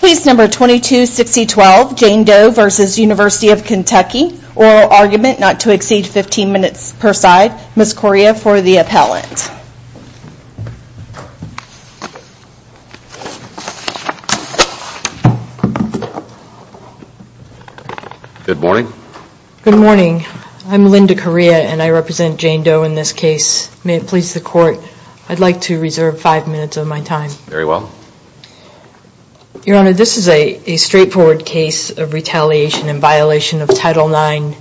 Case number 226012, Jane Doe v. University of Kentucky. Oral argument not to exceed 15 minutes per side. Ms. Correa for the appellant. Good morning. Good morning. I'm Linda Correa and I represent Jane Doe in this case. May it please the court, I'd like to reserve five minutes of my time. Very well. Your Honor, this is a straightforward case of retaliation in violation of Title IX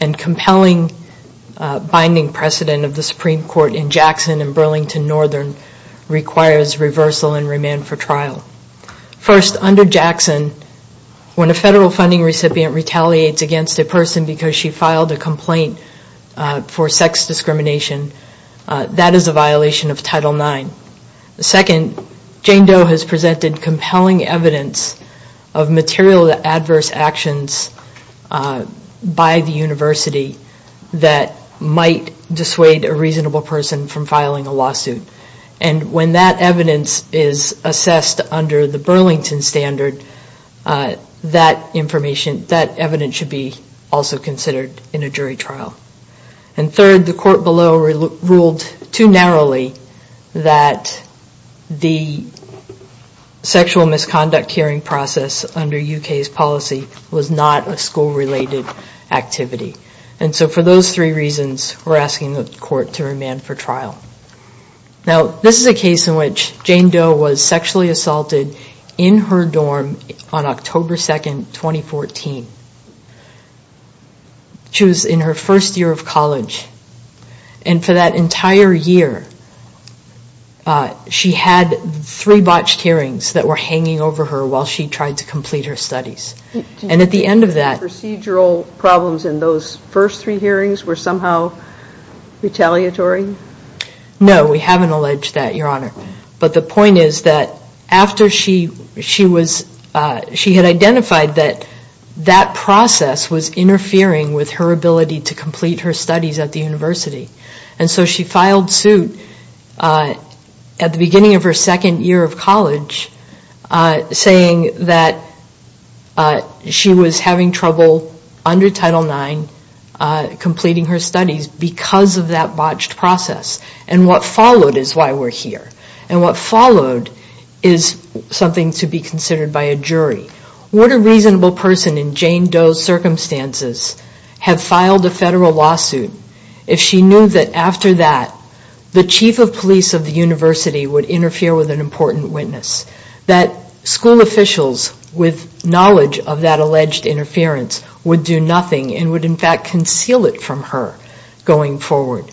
and compelling binding precedent of the Supreme Court in Jackson and Burlington Northern requires reversal and remand for trial. First, under Jackson, when a federal funding recipient retaliates against a person because she filed a complaint for sex discrimination, that is a violation of Title IX. Second, Jane Doe has presented compelling evidence of material adverse actions by the university that might dissuade a reasonable person from filing a lawsuit. And when that evidence is assessed under the Burlington standard, that information, that evidence should be also considered in a jury trial. And third, the court below ruled too narrowly that the sexual misconduct hearing process under UK's policy was not a school-related activity. And so for those three reasons, we're asking the court to remand for trial. Now, this is a case in which Jane Doe was sexually assaulted in her dorm on October 2nd, 2014. She was in her first year of college and for that entire year she had three botched hearings that were hanging over her while she tried to complete her studies. And at the end of that... Procedural problems in those first three hearings were somehow retaliatory? No, we haven't alleged that, Your Honor. But the point is that after she was, she had identified that that process was interfering with her ability to complete her studies at the university. And so she filed suit at the beginning of her second year of college saying that she was having trouble under Title IX completing her studies because of that botched process. And what followed is why we're here. And what followed is something to be considered by a jury. Would a reasonable person in Jane Doe's circumstances have filed a federal lawsuit if she knew that after that the chief of police of the university would interfere with an important witness? That school officials with knowledge of that alleged interference would do nothing and would in fact conceal it from her going forward?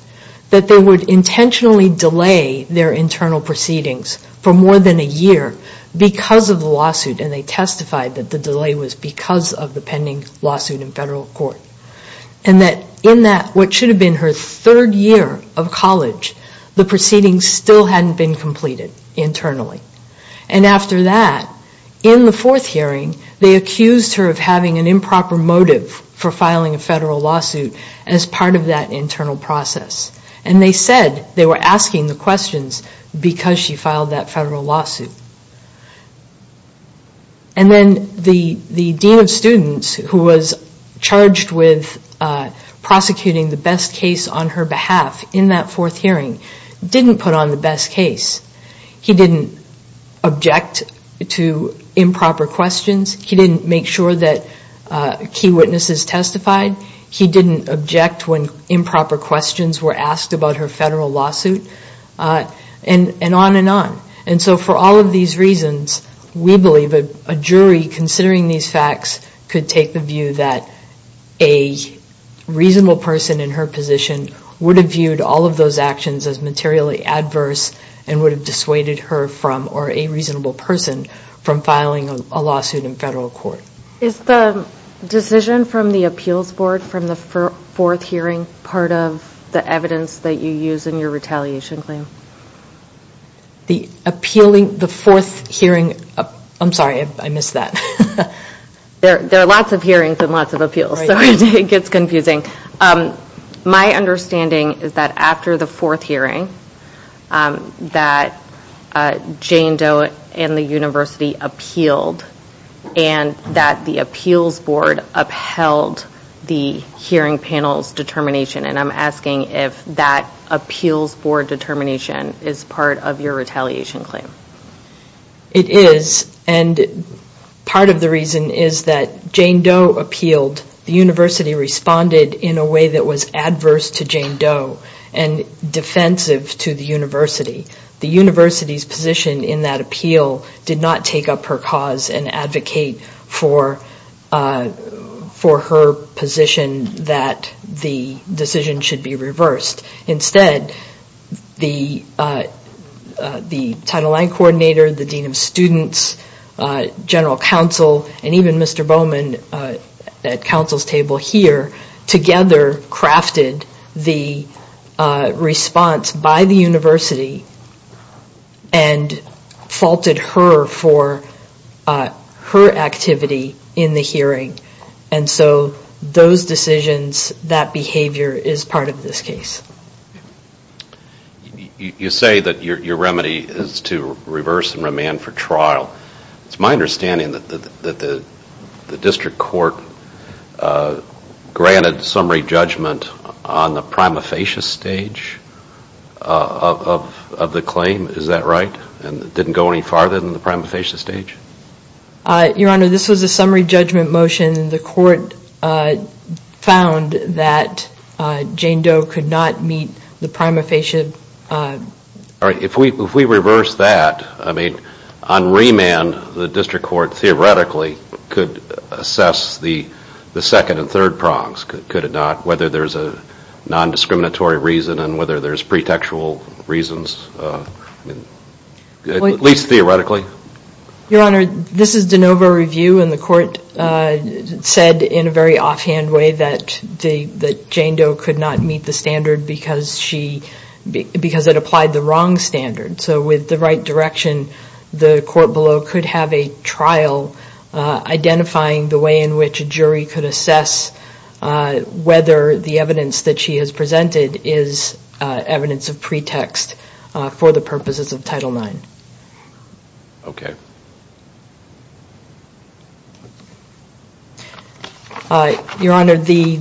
That they would intentionally delay their internal proceedings for more than a year because of the lawsuit and they testified that the delay was because of the pending lawsuit in federal court. And that in that what should have been her third year of college the proceedings still hadn't been completed internally. And after that in the fourth hearing they accused her of having an improper motive for filing a federal lawsuit as part of that internal process. And they said they were asking the questions because she filed that federal lawsuit. And then the dean of students who was charged with prosecuting the best case on her behalf in that fourth hearing didn't put on the best case. He didn't object to improper questions. He didn't make sure that key witnesses testified. He didn't object when improper questions were asked about her federal lawsuit. And on and on. And so for all of these reasons we believe that a jury considering these facts could take the view that a reasonable person in her position would have viewed all of those actions as materially adverse and would have dissuaded her from or a reasonable person from filing a lawsuit in federal court. Is the decision from the appeals board from the fourth hearing part of the evidence that you use in your retaliation claim? The appealing the fourth hearing I'm sorry I missed that. There are lots of hearings and lots of appeals so it gets confusing. My understanding is that after the fourth hearing that Jane Doe and the university appealed and that the appeals board upheld the hearing panel's determination and I'm asking if that appeals board determination is part of your retaliation claim. It is. And part of the reason is that Jane Doe appealed. The university responded in a way that was adverse to Jane Doe and defensive to the university. The university's position in that appeal did not take up her cause and advocate for for her position that the decision should be reversed. the the Title IX coordinator, the dean of students, general counsel and even Mr. Bowman at counsel's table here together crafted the response by the university and faulted her for her activity in the hearing and so those decisions that behavior is part of this case. You say that your remedy is to reverse and remand for trial. It's my understanding that the the district court granted summary judgment on the prima facie stage of the claim, is that right? And it didn't go any farther than the prima facie stage? Your Honor, this was a summary judgment motion. The court found that Jane Doe could not meet the prima facie. If we reverse that, on remand, the district court theoretically could assess the second and third prongs. Could it not? Whether there's a non-discriminatory reason and whether there's pretextual reasons at least theoretically. Your Honor, this is de novo review and the court said in a very offhand way that Jane Doe could not meet the standard because she because it applied the wrong standard. So with the right direction the court below could have a trial identifying the way in which a jury could assess whether the evidence that she has presented is evidence of pretext for the purposes of Title IX. Your Honor, the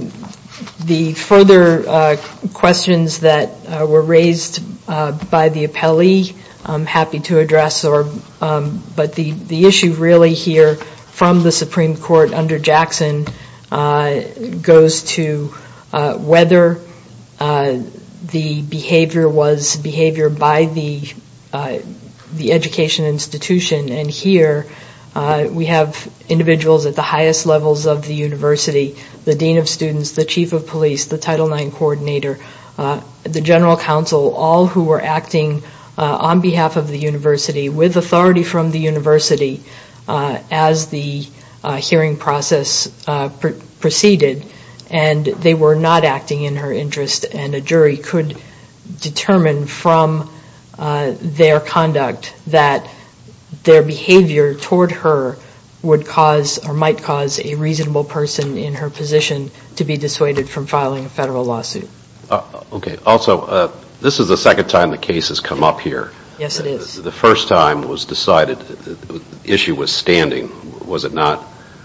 further questions that were raised by the appellee I'm happy to address. But the issue really here from the Supreme Court under Jackson goes to whether the behavior was behavior by the the education institution. And here we have individuals at the highest levels of the university, the dean of students, the chief of police, the Title IX coordinator, the general counsel, all who were acting on behalf of the university with authority from the university as the hearing process proceeded and they were not acting in her interest and a jury could determine from their conduct that their behavior toward her would cause or might cause a reasonable person in her position to be dissuaded from filing a federal lawsuit. Okay, also this is the second time the case has come up here. Yes it is. The first time it was decided the issue was standing, was it not?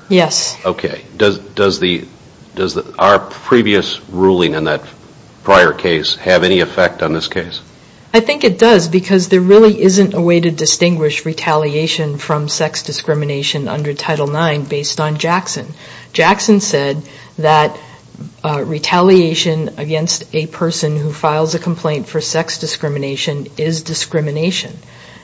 Yes. Okay. Does our previous ruling in that prior case have any effect on this case? I think it does because there really isn't a way to distinguish retaliation from sex discrimination under Title IX based on Jackson. Jackson said that retaliation against a person who files a complaint for sex discrimination is discrimination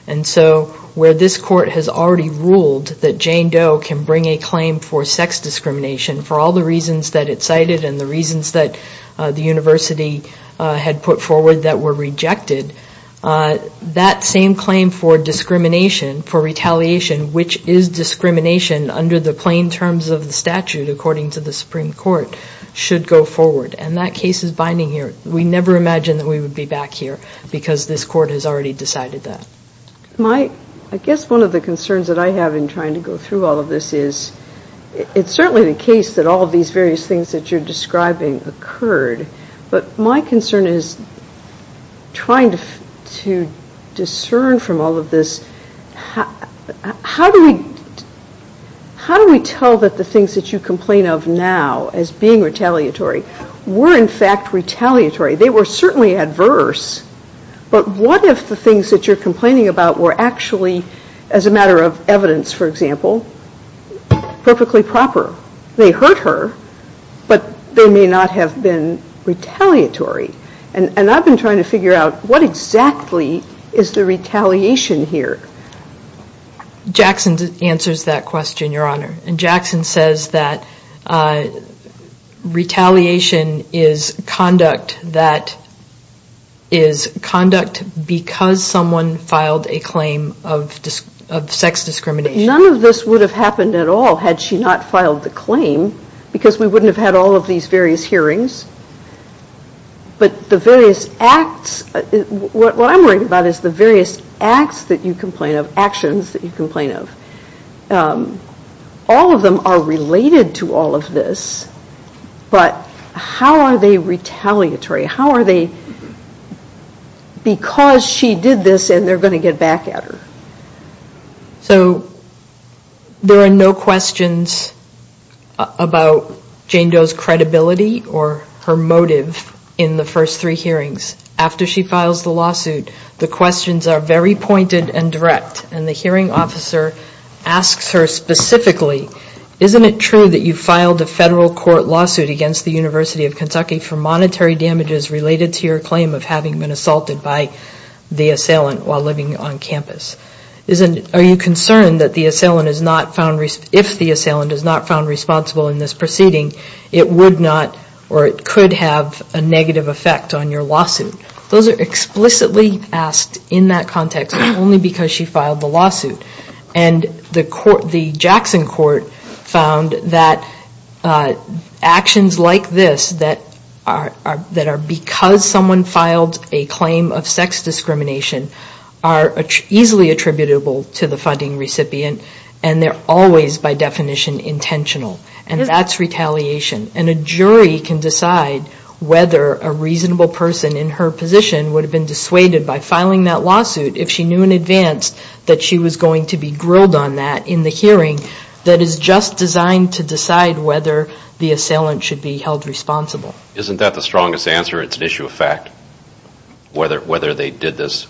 and so where this court has already ruled that Jane Doe can bring a claim for sex discrimination for all the reasons that it cited and the reasons that the university had put forward that were rejected, that same claim for discrimination, for retaliation, which is discrimination under the plain terms of the statute according to the Supreme Court should go forward and that case is binding here. We never imagined that we would be back here because this court has already decided that. I guess one of the concerns that I have in trying to go through all of this is it's certainly the case that all of these various things that you're describing occurred but my concern is trying to discern from all of this how do we tell that the things that you complain of now as being retaliatory were in fact retaliatory. They were certainly adverse but what if the things that you're complaining about were actually as a matter of evidence for example perfectly proper? They hurt her but they may not have been retaliatory and I've been trying to figure out what exactly is the retaliation here? Jackson answers that question, your honor, and Jackson says that retaliation is conduct that is conduct because someone filed a claim of sex discrimination. None of this would have happened at all had she not filed the claim because we wouldn't have had all of these various hearings but the various acts, what I'm worried about is the various acts that you complain of, actions that you complain of. All of them are related to all of this but how are they retaliatory? How are they because she did this and they're going to get back at her? So there are no questions about Jane Doe's credibility or her motive in the first three hearings. After she files the lawsuit the questions are very pointed and direct and the hearing officer asks her specifically isn't it true that you filed a federal court lawsuit against the University of Kentucky for monetary damages related to your claim of having been assaulted by the assailant while living on campus? Are you concerned that the assailant is not found, if the assailant is not found responsible in this proceeding it would not or it could have a negative effect on your lawsuit? Those are explicitly asked in that context only because she filed the lawsuit and the Jackson court found that actions like this that are because someone filed a claim of sex discrimination are easily attributable to the funding recipient and they're always by definition intentional and that's retaliation and a jury can decide whether a reasonable person in her position would have been dissuaded by filing that lawsuit if she knew in advance that she was going to be grilled on that in the hearing that is just designed to decide whether the assailant should be held responsible. Isn't that the strongest answer? It's an issue of fact whether they did this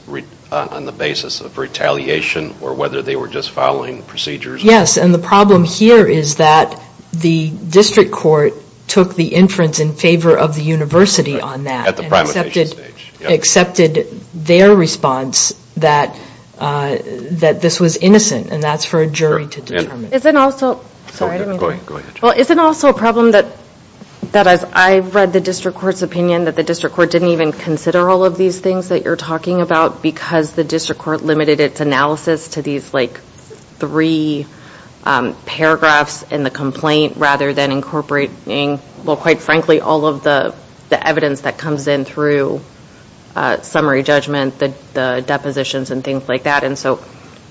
on the basis of retaliation or whether they were just following procedures? Yes and the problem here is that the district court took the inference in favor of the university on that. At the primary stage. They accepted their response that this was innocent and that's for a jury to determine. Isn't also a problem that I read the district court's opinion that the district court didn't even consider all of these things that you're talking about because the district court limited its analysis to these three paragraphs in the complaint rather than incorporating well quite frankly all of the evidence that comes in through summary judgment, the depositions and things like that and so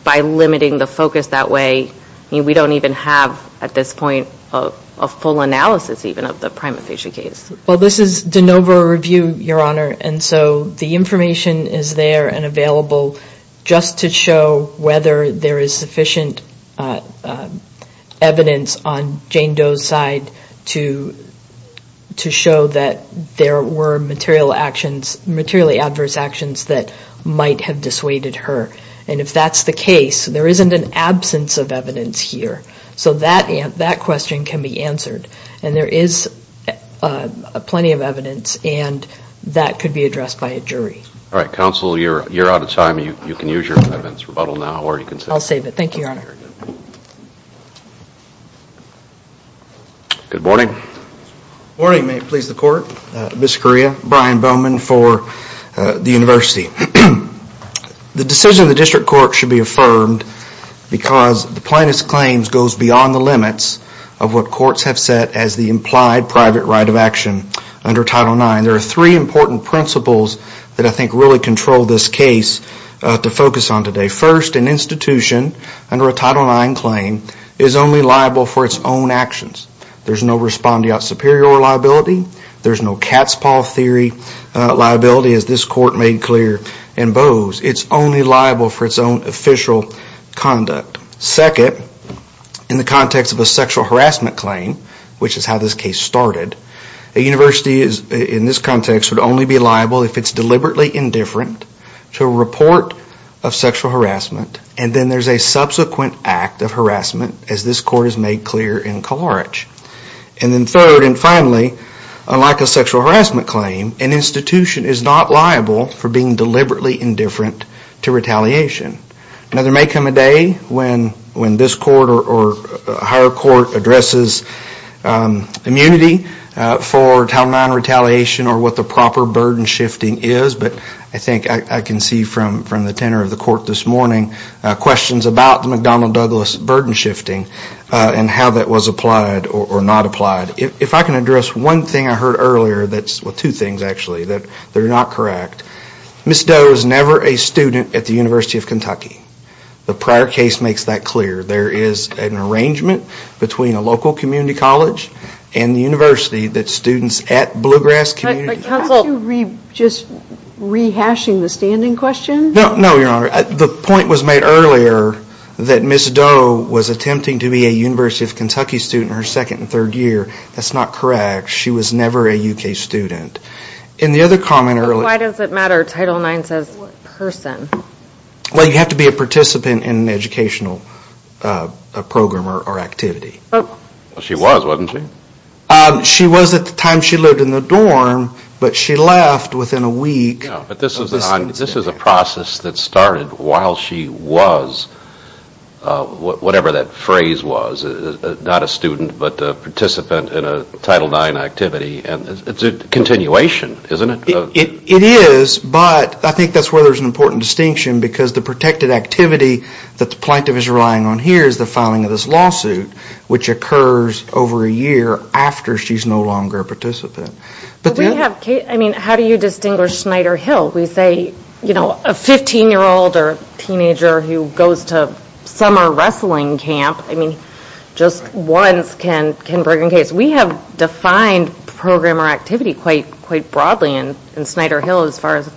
by limiting the focus that way we don't even have at this point a full analysis even of the prima facie case. Well this is de novo review your honor and so the information is there and available just to show whether there is sufficient evidence on Jane Doe's side to to show that there were material actions materially adverse actions that might have dissuaded her and if that's the case there isn't an absence of evidence here so that question can be answered and there is plenty of evidence and that could be addressed by a jury. Alright counsel you're out of time you can use your evidence rebuttal now or you can save it. I'll save it, thank you your honor. Good morning. Good morning, may it please the court, Mr. Correa, Brian Bowman for the university. The decision of the district court should be affirmed because the plaintiff's claims goes beyond the limits of what courts have set as the implied private right of action under Title IX. There are three important principles that I think really control this case to focus on today. First, an institution under a Title IX claim is only liable for its own actions. There's no respondeat superior liability, there's no cat's paw theory liability as this court made clear in Bowes. It's only liable for its own official conduct. Second, in the context of a sexual harassment claim, which is how this case started, a university in this context would only be liable if it's deliberately indifferent to a report of sexual harassment and then there's a subsequent act of harassment as this court has made clear in Kalarich. And then third and finally, unlike a sexual harassment claim, an institution is not liable for being deliberately indifferent to retaliation. Now there may come a day when this court or a higher court addresses immunity for Title IX retaliation or what the proper burden shifting is, but I think I can see from the tenor of the court this morning questions about the McDonnell Douglas burden shifting and how that was applied or not applied. If I can address one thing I heard earlier that's, well two things actually, that they're not correct. Ms. Doe is never a student at the University of Kentucky. The prior case makes that clear. There is an arrangement between a local community college and the university that students at Blue Grass Community College... Counsel, are you just rehashing the standing question? No, no your honor. The point was made earlier that Ms. Doe was attempting to be a University of Kentucky student her second and third year. That's not correct. She was never a UK student. In the other comment earlier... Why does it matter? Title IX says person. Well you have to be a participant in an educational program or activity. She was, wasn't she? She was at the time she lived in the dorm but she left within a week. But this is a process that started while she was whatever that phrase was, not a student but a participant in a Title IX activity and it's a continuation, isn't it? It is but I think that's where there's an important distinction because the protected activity that the plaintiff is relying on here is the filing of this lawsuit which occurs over a year after she's no longer a participant. How do you distinguish Schneider Hill? We say you know a fifteen-year-old or teenager who goes to summer wrestling camp just once can bring a case. We have defined program or activity quite broadly in Schneider Hill as far as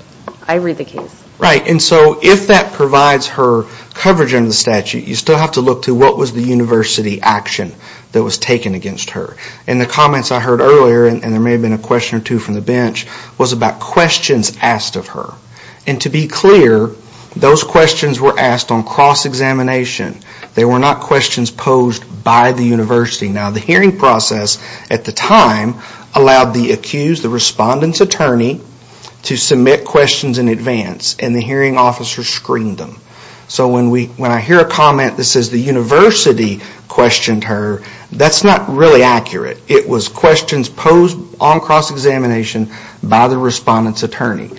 I read the case. Right, and so if that provides her coverage under the statute, you still have to look to what was the university action that was taken against her. And the comments I heard earlier, and there may have been a question or two from the bench, was about questions asked of her. And to be clear those questions were asked on cross-examination. They were not questions posed by the university. Now the hearing process at the time allowed the accused, the respondent's attorney to submit questions in advance and the hearing officer screened them. So when I hear a comment that says the university questioned her, that's not really accurate. It was questions posed on cross-examination by the respondent's attorney.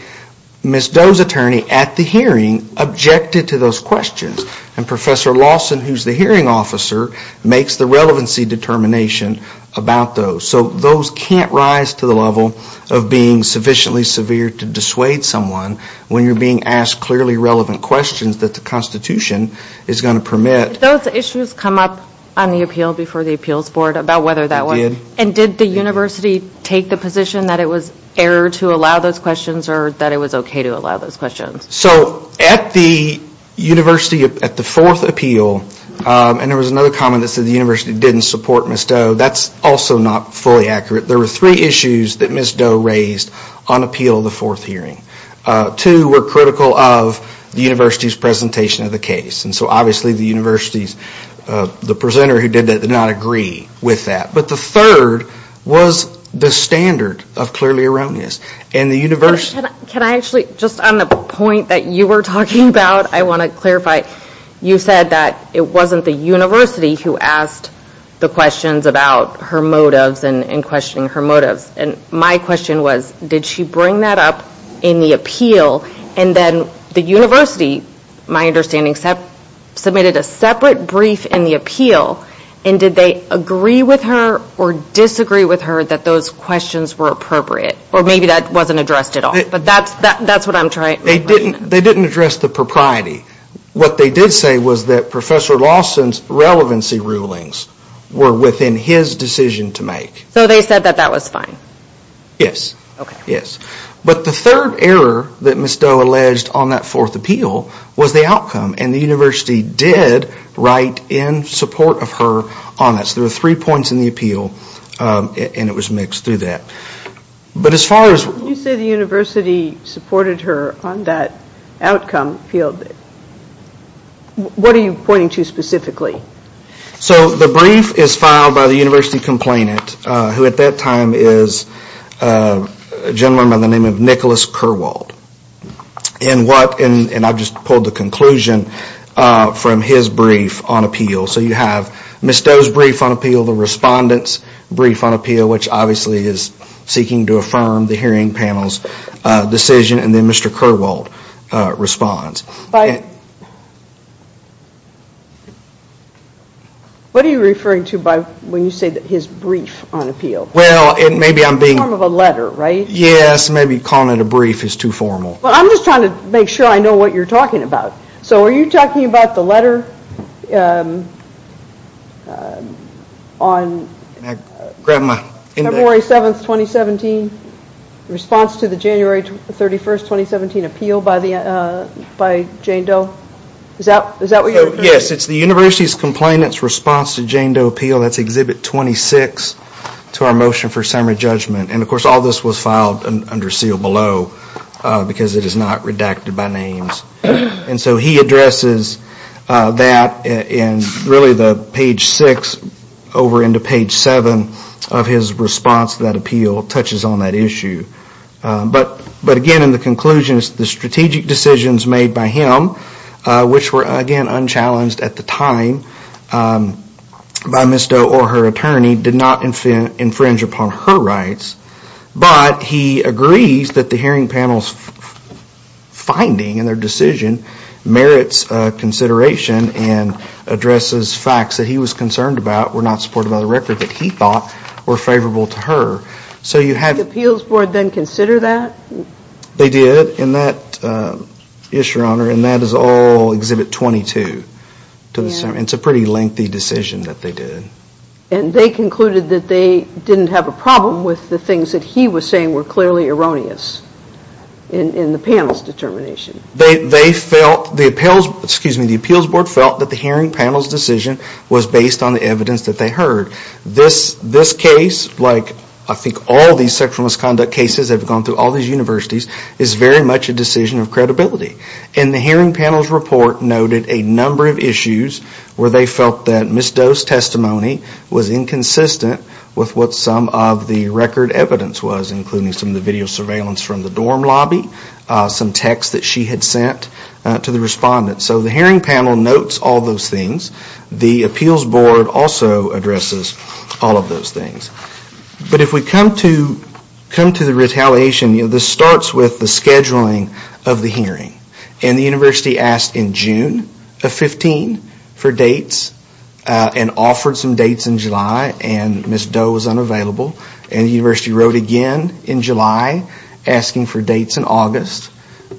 Ms. Doe's attorney at the hearing objected to those questions and Professor Lawson, who's the hearing officer, makes the relevancy determination about those. So those can't rise to the level of being sufficiently severe to dissuade someone when you're being asked clearly relevant questions that the Constitution is going to permit. Did those issues come up on the appeal before the appeals board about whether that was? It did. And did the university take the position that it was error to allow those questions or that it was okay to allow those questions? So at the university at the fourth appeal, and there was another comment that said the university didn't support Ms. Doe, that's also not fully accurate. There were three issues that Ms. Doe raised on appeal of the fourth hearing. Two were critical of the university's presentation of the case. And so obviously the university's, the presenter who did that did not agree with that. But the third was the standard of clearly erroneous. And the university... Can I actually, just on the point that you were talking about, I want to clarify, you said that it wasn't the university who asked the questions about her motives and questioning her motives. And my question was, did she bring that up in the appeal and then the university, my understanding, submitted a separate brief in the appeal and did they agree with her or disagree with her that those questions were appropriate? Or maybe that wasn't addressed at all. But that's what I'm trying... They didn't address the propriety. What they did say was that Professor Lawson's relevancy rulings were within his decision to make. So they said that that was fine? Yes. But the third error that Ms. Doe alleged on that fourth appeal was the outcome. And the university did write in support of her on this. There were three points in the appeal and it was mixed through that. But as far as... When you say the university supported her on that outcome field, what are you pointing to specifically? So the brief is filed by the university complainant, who at that time is a gentleman by the name of Nicholas Kerwald. And what... And I've just pulled the conclusion from his brief on appeal. So you have Ms. Doe's brief on appeal, the respondent's brief on appeal, which obviously is seeking to affirm the hearing panel's decision. And then Mr. Kerwald responds. What are you referring to by... when you say that his brief on appeal? Well, maybe I'm being... In the form of a letter, right? Yes, maybe calling it a brief is too formal. Well, I'm just trying to make sure I know what you're talking about. So are you talking about the letter on... February 7, 2017, response to the January 31, 2017 appeal by Jane Doe? Is that what you're... Yes, it's the university's complainant's response to Jane Doe appeal. That's Exhibit 26 to our motion for summary judgment. And of course all this was filed under seal below because it is not redacted by names. And so he addresses that in really the page six over into page seven of his response to that appeal, touches on that issue. But again, in the conclusion, the strategic decisions made by him, which were again unchallenged at the time by Ms. Doe or her attorney, did not infringe upon her rights. But he agrees that the hearing panel's finding in their decision merits consideration and addresses facts that he was concerned about, were not supported by the record that he thought were favorable to her. So you have... Did the appeals board then consider that? They did in that issue, Your Honor, and that is all Exhibit 22 to the summary. It's a pretty lengthy decision that they did. And they concluded that they didn't have a problem with the things that he was saying were clearly erroneous in the panel's determination. They felt, the appeals, excuse me, the appeals board felt that the hearing panel's decision was based on the evidence that they heard. This case, like I think all these sexual misconduct cases that have gone through all these universities, is very much a decision of credibility. And the hearing panel's report noted a number of issues where they felt that Ms. Doe's testimony was inconsistent with what some of the record evidence was, including some of the video surveillance from the dorm lobby, some texts that she had sent to the respondents. So the hearing panel notes all those things. The appeals board also addresses all of those things. But if we come to the retaliation, this starts with the scheduling of the hearing. And the university asked in June of 15 for dates and offered some dates in July, and Ms. Doe was unavailable. And the university wrote again in July asking for dates in August.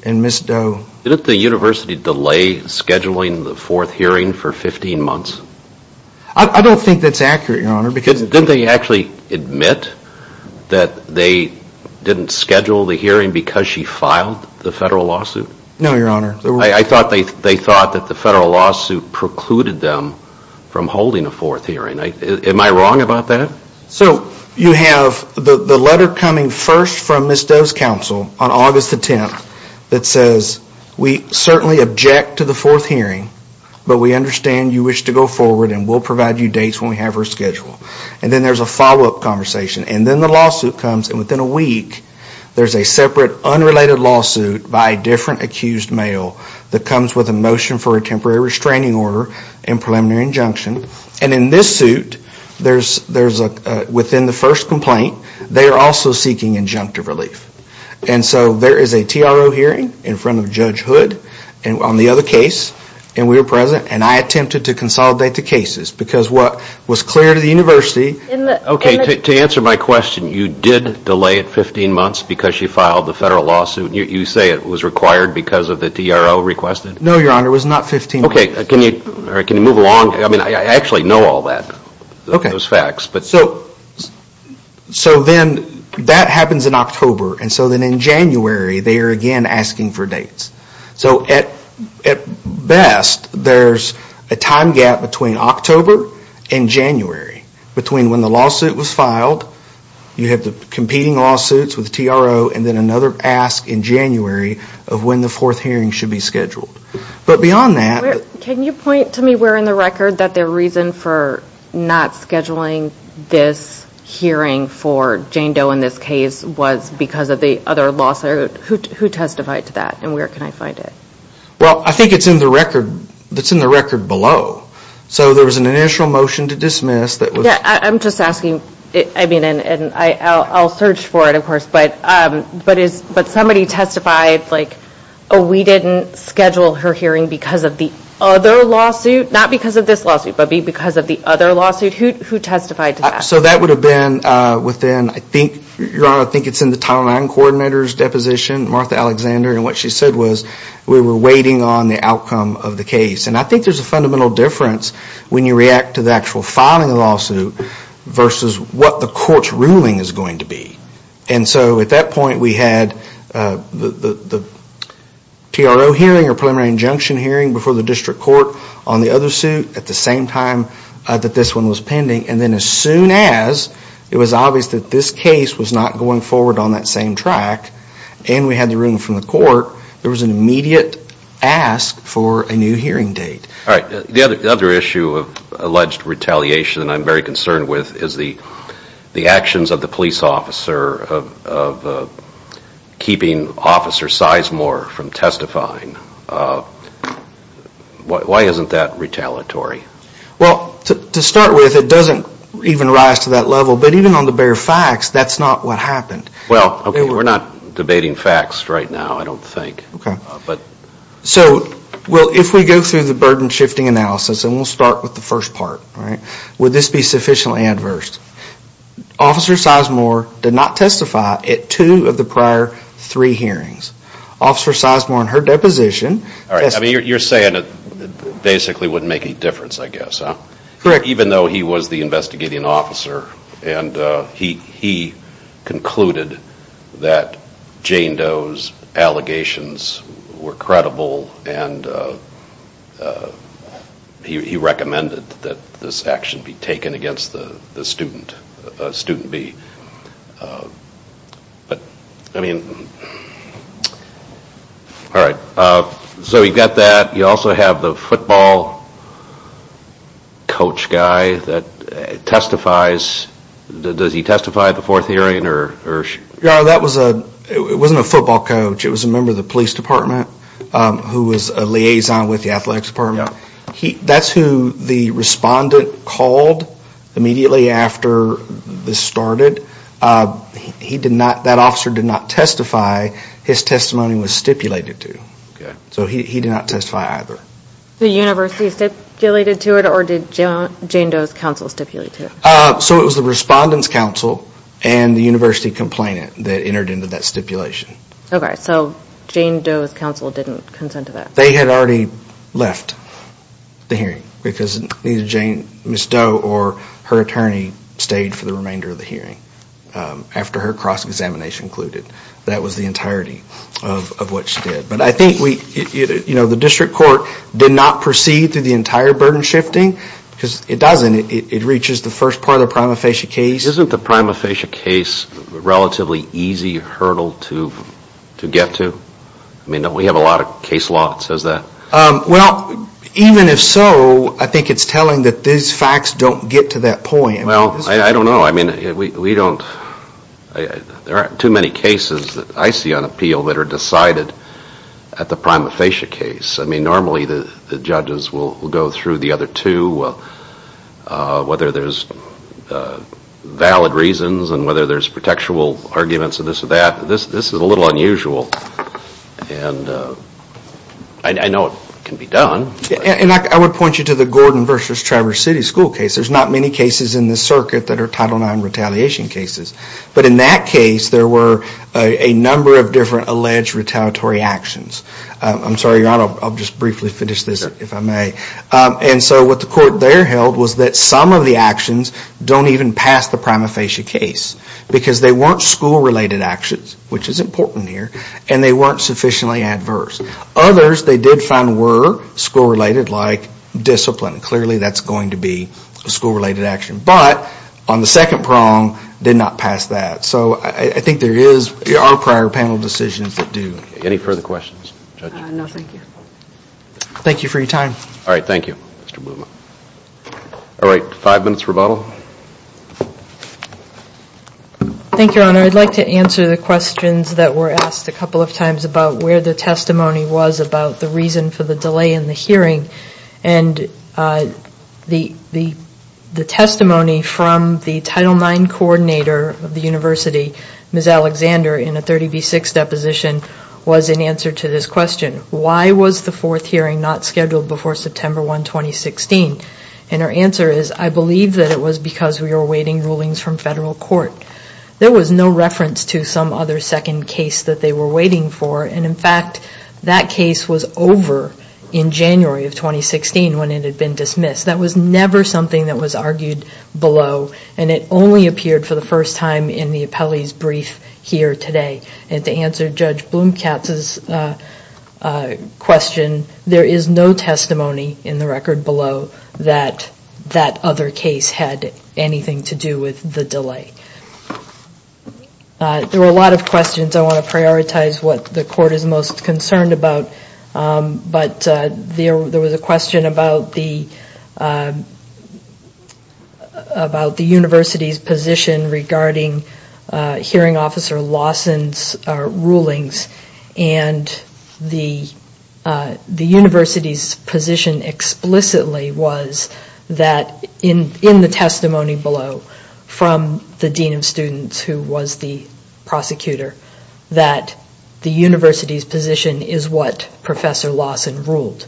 And Ms. Doe... Didn't the university delay scheduling the fourth hearing for 15 months? I don't think that's accurate, Your Honor, because... Didn't they actually admit that they didn't schedule the hearing because she filed the federal lawsuit? No, Your Honor. I thought they thought that the federal lawsuit precluded them from holding a fourth hearing. Am I wrong about that? So, you have the letter coming first from Ms. Doe's counsel on August the 10th that says we certainly object to the fourth hearing, but we understand you wish to go forward and we'll provide you dates when we have her schedule. And then there's a follow-up conversation, and then the lawsuit comes, and within a there's a separate unrelated lawsuit by a different accused male that comes with a motion for a temporary restraining order and preliminary injunction. And in this suit there's... Within the first complaint, they are also seeking injunctive relief. And so, there is a TRO hearing in front of Judge Hood on the other case, and we were present, and I attempted to consolidate the cases because what was clear to the University... Okay, to answer my question, you did delay it 15 months because she filed the federal lawsuit? You say it was required because of the TRO requested? No, Your Honor, it was not 15 months. Okay, can you move along? I mean, I actually know all that, those facts, but... So then, that happens in October, and so then in January, they are again asking for dates. So at best, there's a time gap between October and January, between when the lawsuit was filed, you have the competing lawsuits with TRO, and then another ask in January of when the fourth hearing should be scheduled. But beyond that... Can you point to me where in the record that the reason for not scheduling this hearing for Jane Doe in this case was because of the other lawsuit? Who testified to that, and where can I find it? Well, I think it's in the record that's in the record below. So there was an initial motion to dismiss that was... Yeah, I'm just asking, I mean, and I'll search for it, of course, but somebody testified, like, oh, we didn't schedule her hearing because of the other lawsuit, not because of this lawsuit, but because of the other lawsuit. Who testified to that? So that would have been within, I think, Your Honor, I think it's in the Title IX coordinator's deposition, Martha Alexander, and what she said was we were waiting on the outcome of the case. And I think there's a fundamental difference when you react to the actual filing of the lawsuit versus what the court's ruling is going to be. And so at that point we had the TRO hearing or preliminary injunction hearing before the district court on the other suit at the same time that this one was pending. And then as soon as it was obvious that this case was not going forward on that same track and we had the room from the court, there was an immediate ask for a new hearing date. Alright, the other issue of alleged retaliation that I'm very concerned with is the the actions of the police officer of keeping Officer Sizemore from testifying. Why isn't that retaliatory? Well, to start with, it doesn't even rise to that level. But even on the bare facts, that's not what happened. Well, okay, we're not debating facts right now, I don't think. So, well, if we go through the burden-shifting analysis, and we'll start with the first part, would this be sufficiently adverse? Officer Sizemore did not testify at two of the prior three hearings. Officer Sizemore, in her deposition... Alright, I mean, you're saying that basically wouldn't make a difference, I guess, huh? Even though he was the investigating officer and he concluded that Jane Doe's were credible and he recommended that this action be taken against the student, student B. I mean, alright, so you've got that, you also have the football coach guy that testifies. Does he testify at the fourth hearing? No, that was a... it wasn't a football coach, it was a member of the police department who was a liaison with the athletics department. That's who the respondent called immediately after this started. He did not, that officer did not testify. His testimony was stipulated to. So he did not testify either. The university stipulated to it or did Jane Doe's counsel stipulate to it? So it was the respondent's counsel and the university complainant that entered into that stipulation. Okay, so Jane Doe's counsel didn't consent to that? They had already left the hearing because Miss Doe or her attorney stayed for the remainder of the hearing after her cross-examination included. That was the entirety of what she did. But I think we, you know, the district court did not proceed through the entire burden shifting because it doesn't, it reaches the first part of the prima facie case. Isn't the prima facie case relatively easy hurdle to get to? I mean, we have a lot of case law that says that. Well, even if so, I think it's telling that these facts don't get to that point. Well, I don't know, I mean, we don't... There aren't too many cases that I see on appeal that are decided at the prima facie case. I mean, normally the judges will go through the other two. Whether there's valid reasons and whether there's protectual arguments and this or that, this is a little unusual. And I know it can be done. And I would point you to the Gordon versus Traverse City school case. There's not many cases in the circuit that are Title IX retaliation cases. But in that case there were a number of different alleged retaliatory actions. I'm sorry, I'll just briefly finish this if I may. And so what the court there held was that some of the actions don't even pass the prima facie case. Because they weren't school-related actions, which is important here, and they weren't sufficiently adverse. Others they did find were school-related like discipline. Clearly that's going to be a school-related action. But on the second prong did not pass that. So I think there are prior panel decisions that do. Any further questions? Thank you for your time. Alright, five minutes rebuttal. Thank you, Your Honor. I'd like to answer the questions that were asked a couple of times about where the testimony was about the reason for the delay in the hearing. And the testimony from the Title IX coordinator of the University, Ms. Alexander, in a 30 v. 6 deposition was in answer to this question. Why was the fourth hearing not scheduled before September 1, 2016? And her answer is, I believe that it was because we were awaiting rulings from federal court. There was no reference to some other second case that they were waiting for. And in fact, that case was over in January of 2016 when it had been dismissed. That was never something that was argued below. And it only appeared for the first time in the appellee's brief here today. And to answer Judge Blumkatz's question, there is no testimony in the record below that that other case had anything to do with the delay. There were a lot of questions. I want to prioritize what the court is most concerned about. But there was a question about the about the University's position regarding hearing officer Lawson's rulings. And the University's position explicitly was that in the testimony below from the Dean of Students, who was the prosecutor, that the University's position is what Professor Lawson ruled.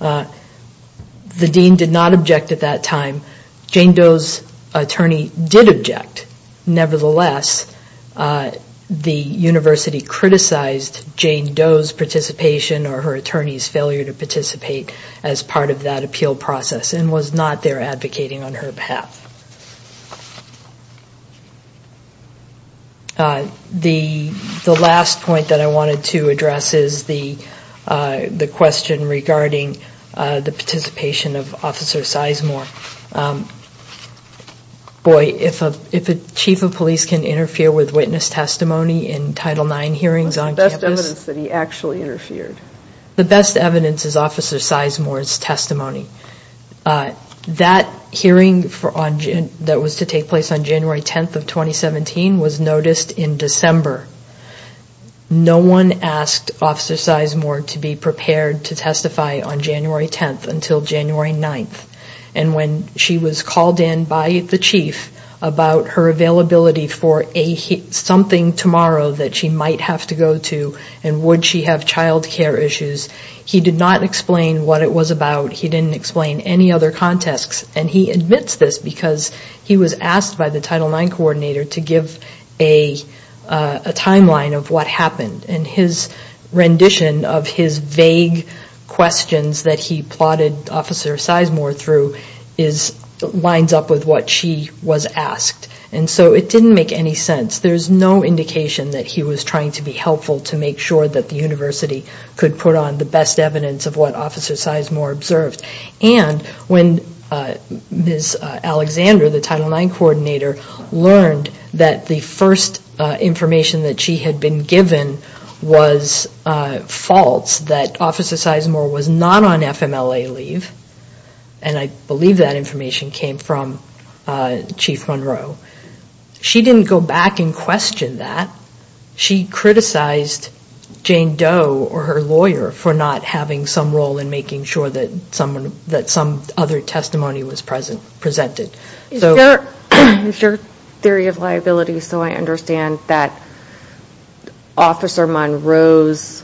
The Dean did not object at that time. Jane Doe's attorney did object. Nevertheless, the University criticized Jane Doe's participation or her attorney's failure to participate as part of that appeal process and was not there advocating on her behalf. The last point that I wanted to address is the question regarding the participation of Officer Sizemore. Boy, if a Chief of Police can interfere with witness testimony in Title IX hearings on campus... What's the best evidence that he actually interfered? The best evidence is Officer Sizemore's testimony. That hearing on Title IX that was to take place on January 10th of 2017 was noticed in December. No one asked Officer Sizemore to be prepared to testify on January 10th until January 9th. And when she was called in by the Chief about her availability for something tomorrow that she might have to go to and would she have child care issues, he did not explain what it was about. He didn't explain any other contexts. And he admits this because he was asked by the Title IX coordinator to give a timeline of what happened. And his rendition of his vague questions that he plotted Officer Sizemore through lines up with what she was asked. And so it didn't make any sense. There's no indication that he was trying to be helpful to make sure that the University could put on the best evidence of what Officer Sizemore observed. And when Ms. Alexander, the Title IX coordinator, learned that the first information that she had been given was false, that Officer Sizemore was not on FMLA leave, and I believe that information came from Chief Monroe, she didn't go back and question that. She criticized Jane Doe or her lawyer for not having some role in making sure that some other testimony was presented. Is your theory of liability so I understand that Officer Monroe's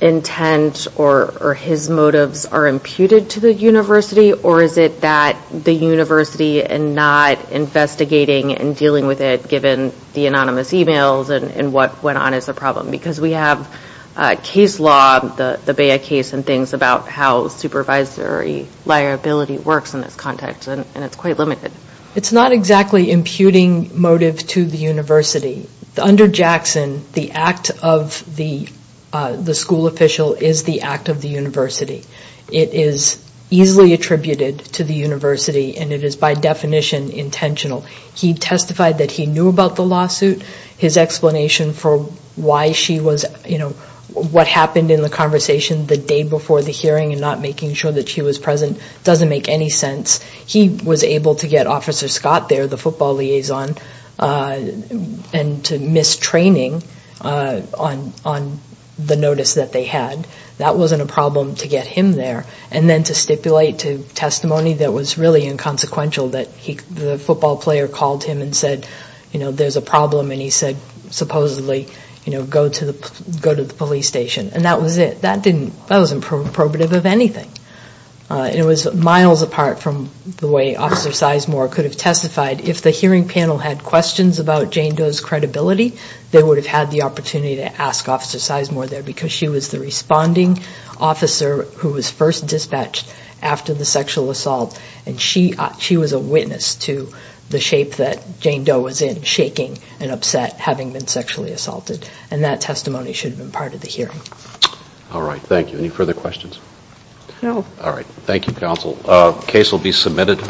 intent or his motives are imputed to the University or is it that the University and not investigating and dealing with it given the anonymous emails and what went on as a problem? Because we have case law, the Bea case and things about how supervisory liability works in this context and it's quite limited. It's not exactly imputing motive to the University. Under Jackson, the act of the school official is the act of the University. It is easily attributed to the University and it is by definition intentional. He testified that he knew about the lawsuit. His explanation for why she was what happened in the conversation the day before the hearing and not making sure that she was present doesn't make any sense. He was able to get Officer Scott there, the football liaison, and to miss training on the notice that they had. That wasn't a problem to get him there and then to stipulate to testimony that was really inconsequential that the football player called him and said there's a problem and he said supposedly go to the police station and that was it. That wasn't probative of anything. It was miles apart from the way Officer Sizemore could have testified. If the hearing panel had questions about Jane Doe's credibility, they would have had the opportunity to ask Officer Sizemore there because she was the responding officer who was first dispatched after the sexual assault and she was a witness to the shape that Jane Doe was in, shaking and upset having been sexually assaulted. And that testimony should have been part of the hearing. All right, thank you. Any further questions? No. All right. Thank you, counsel. The case will be submitted.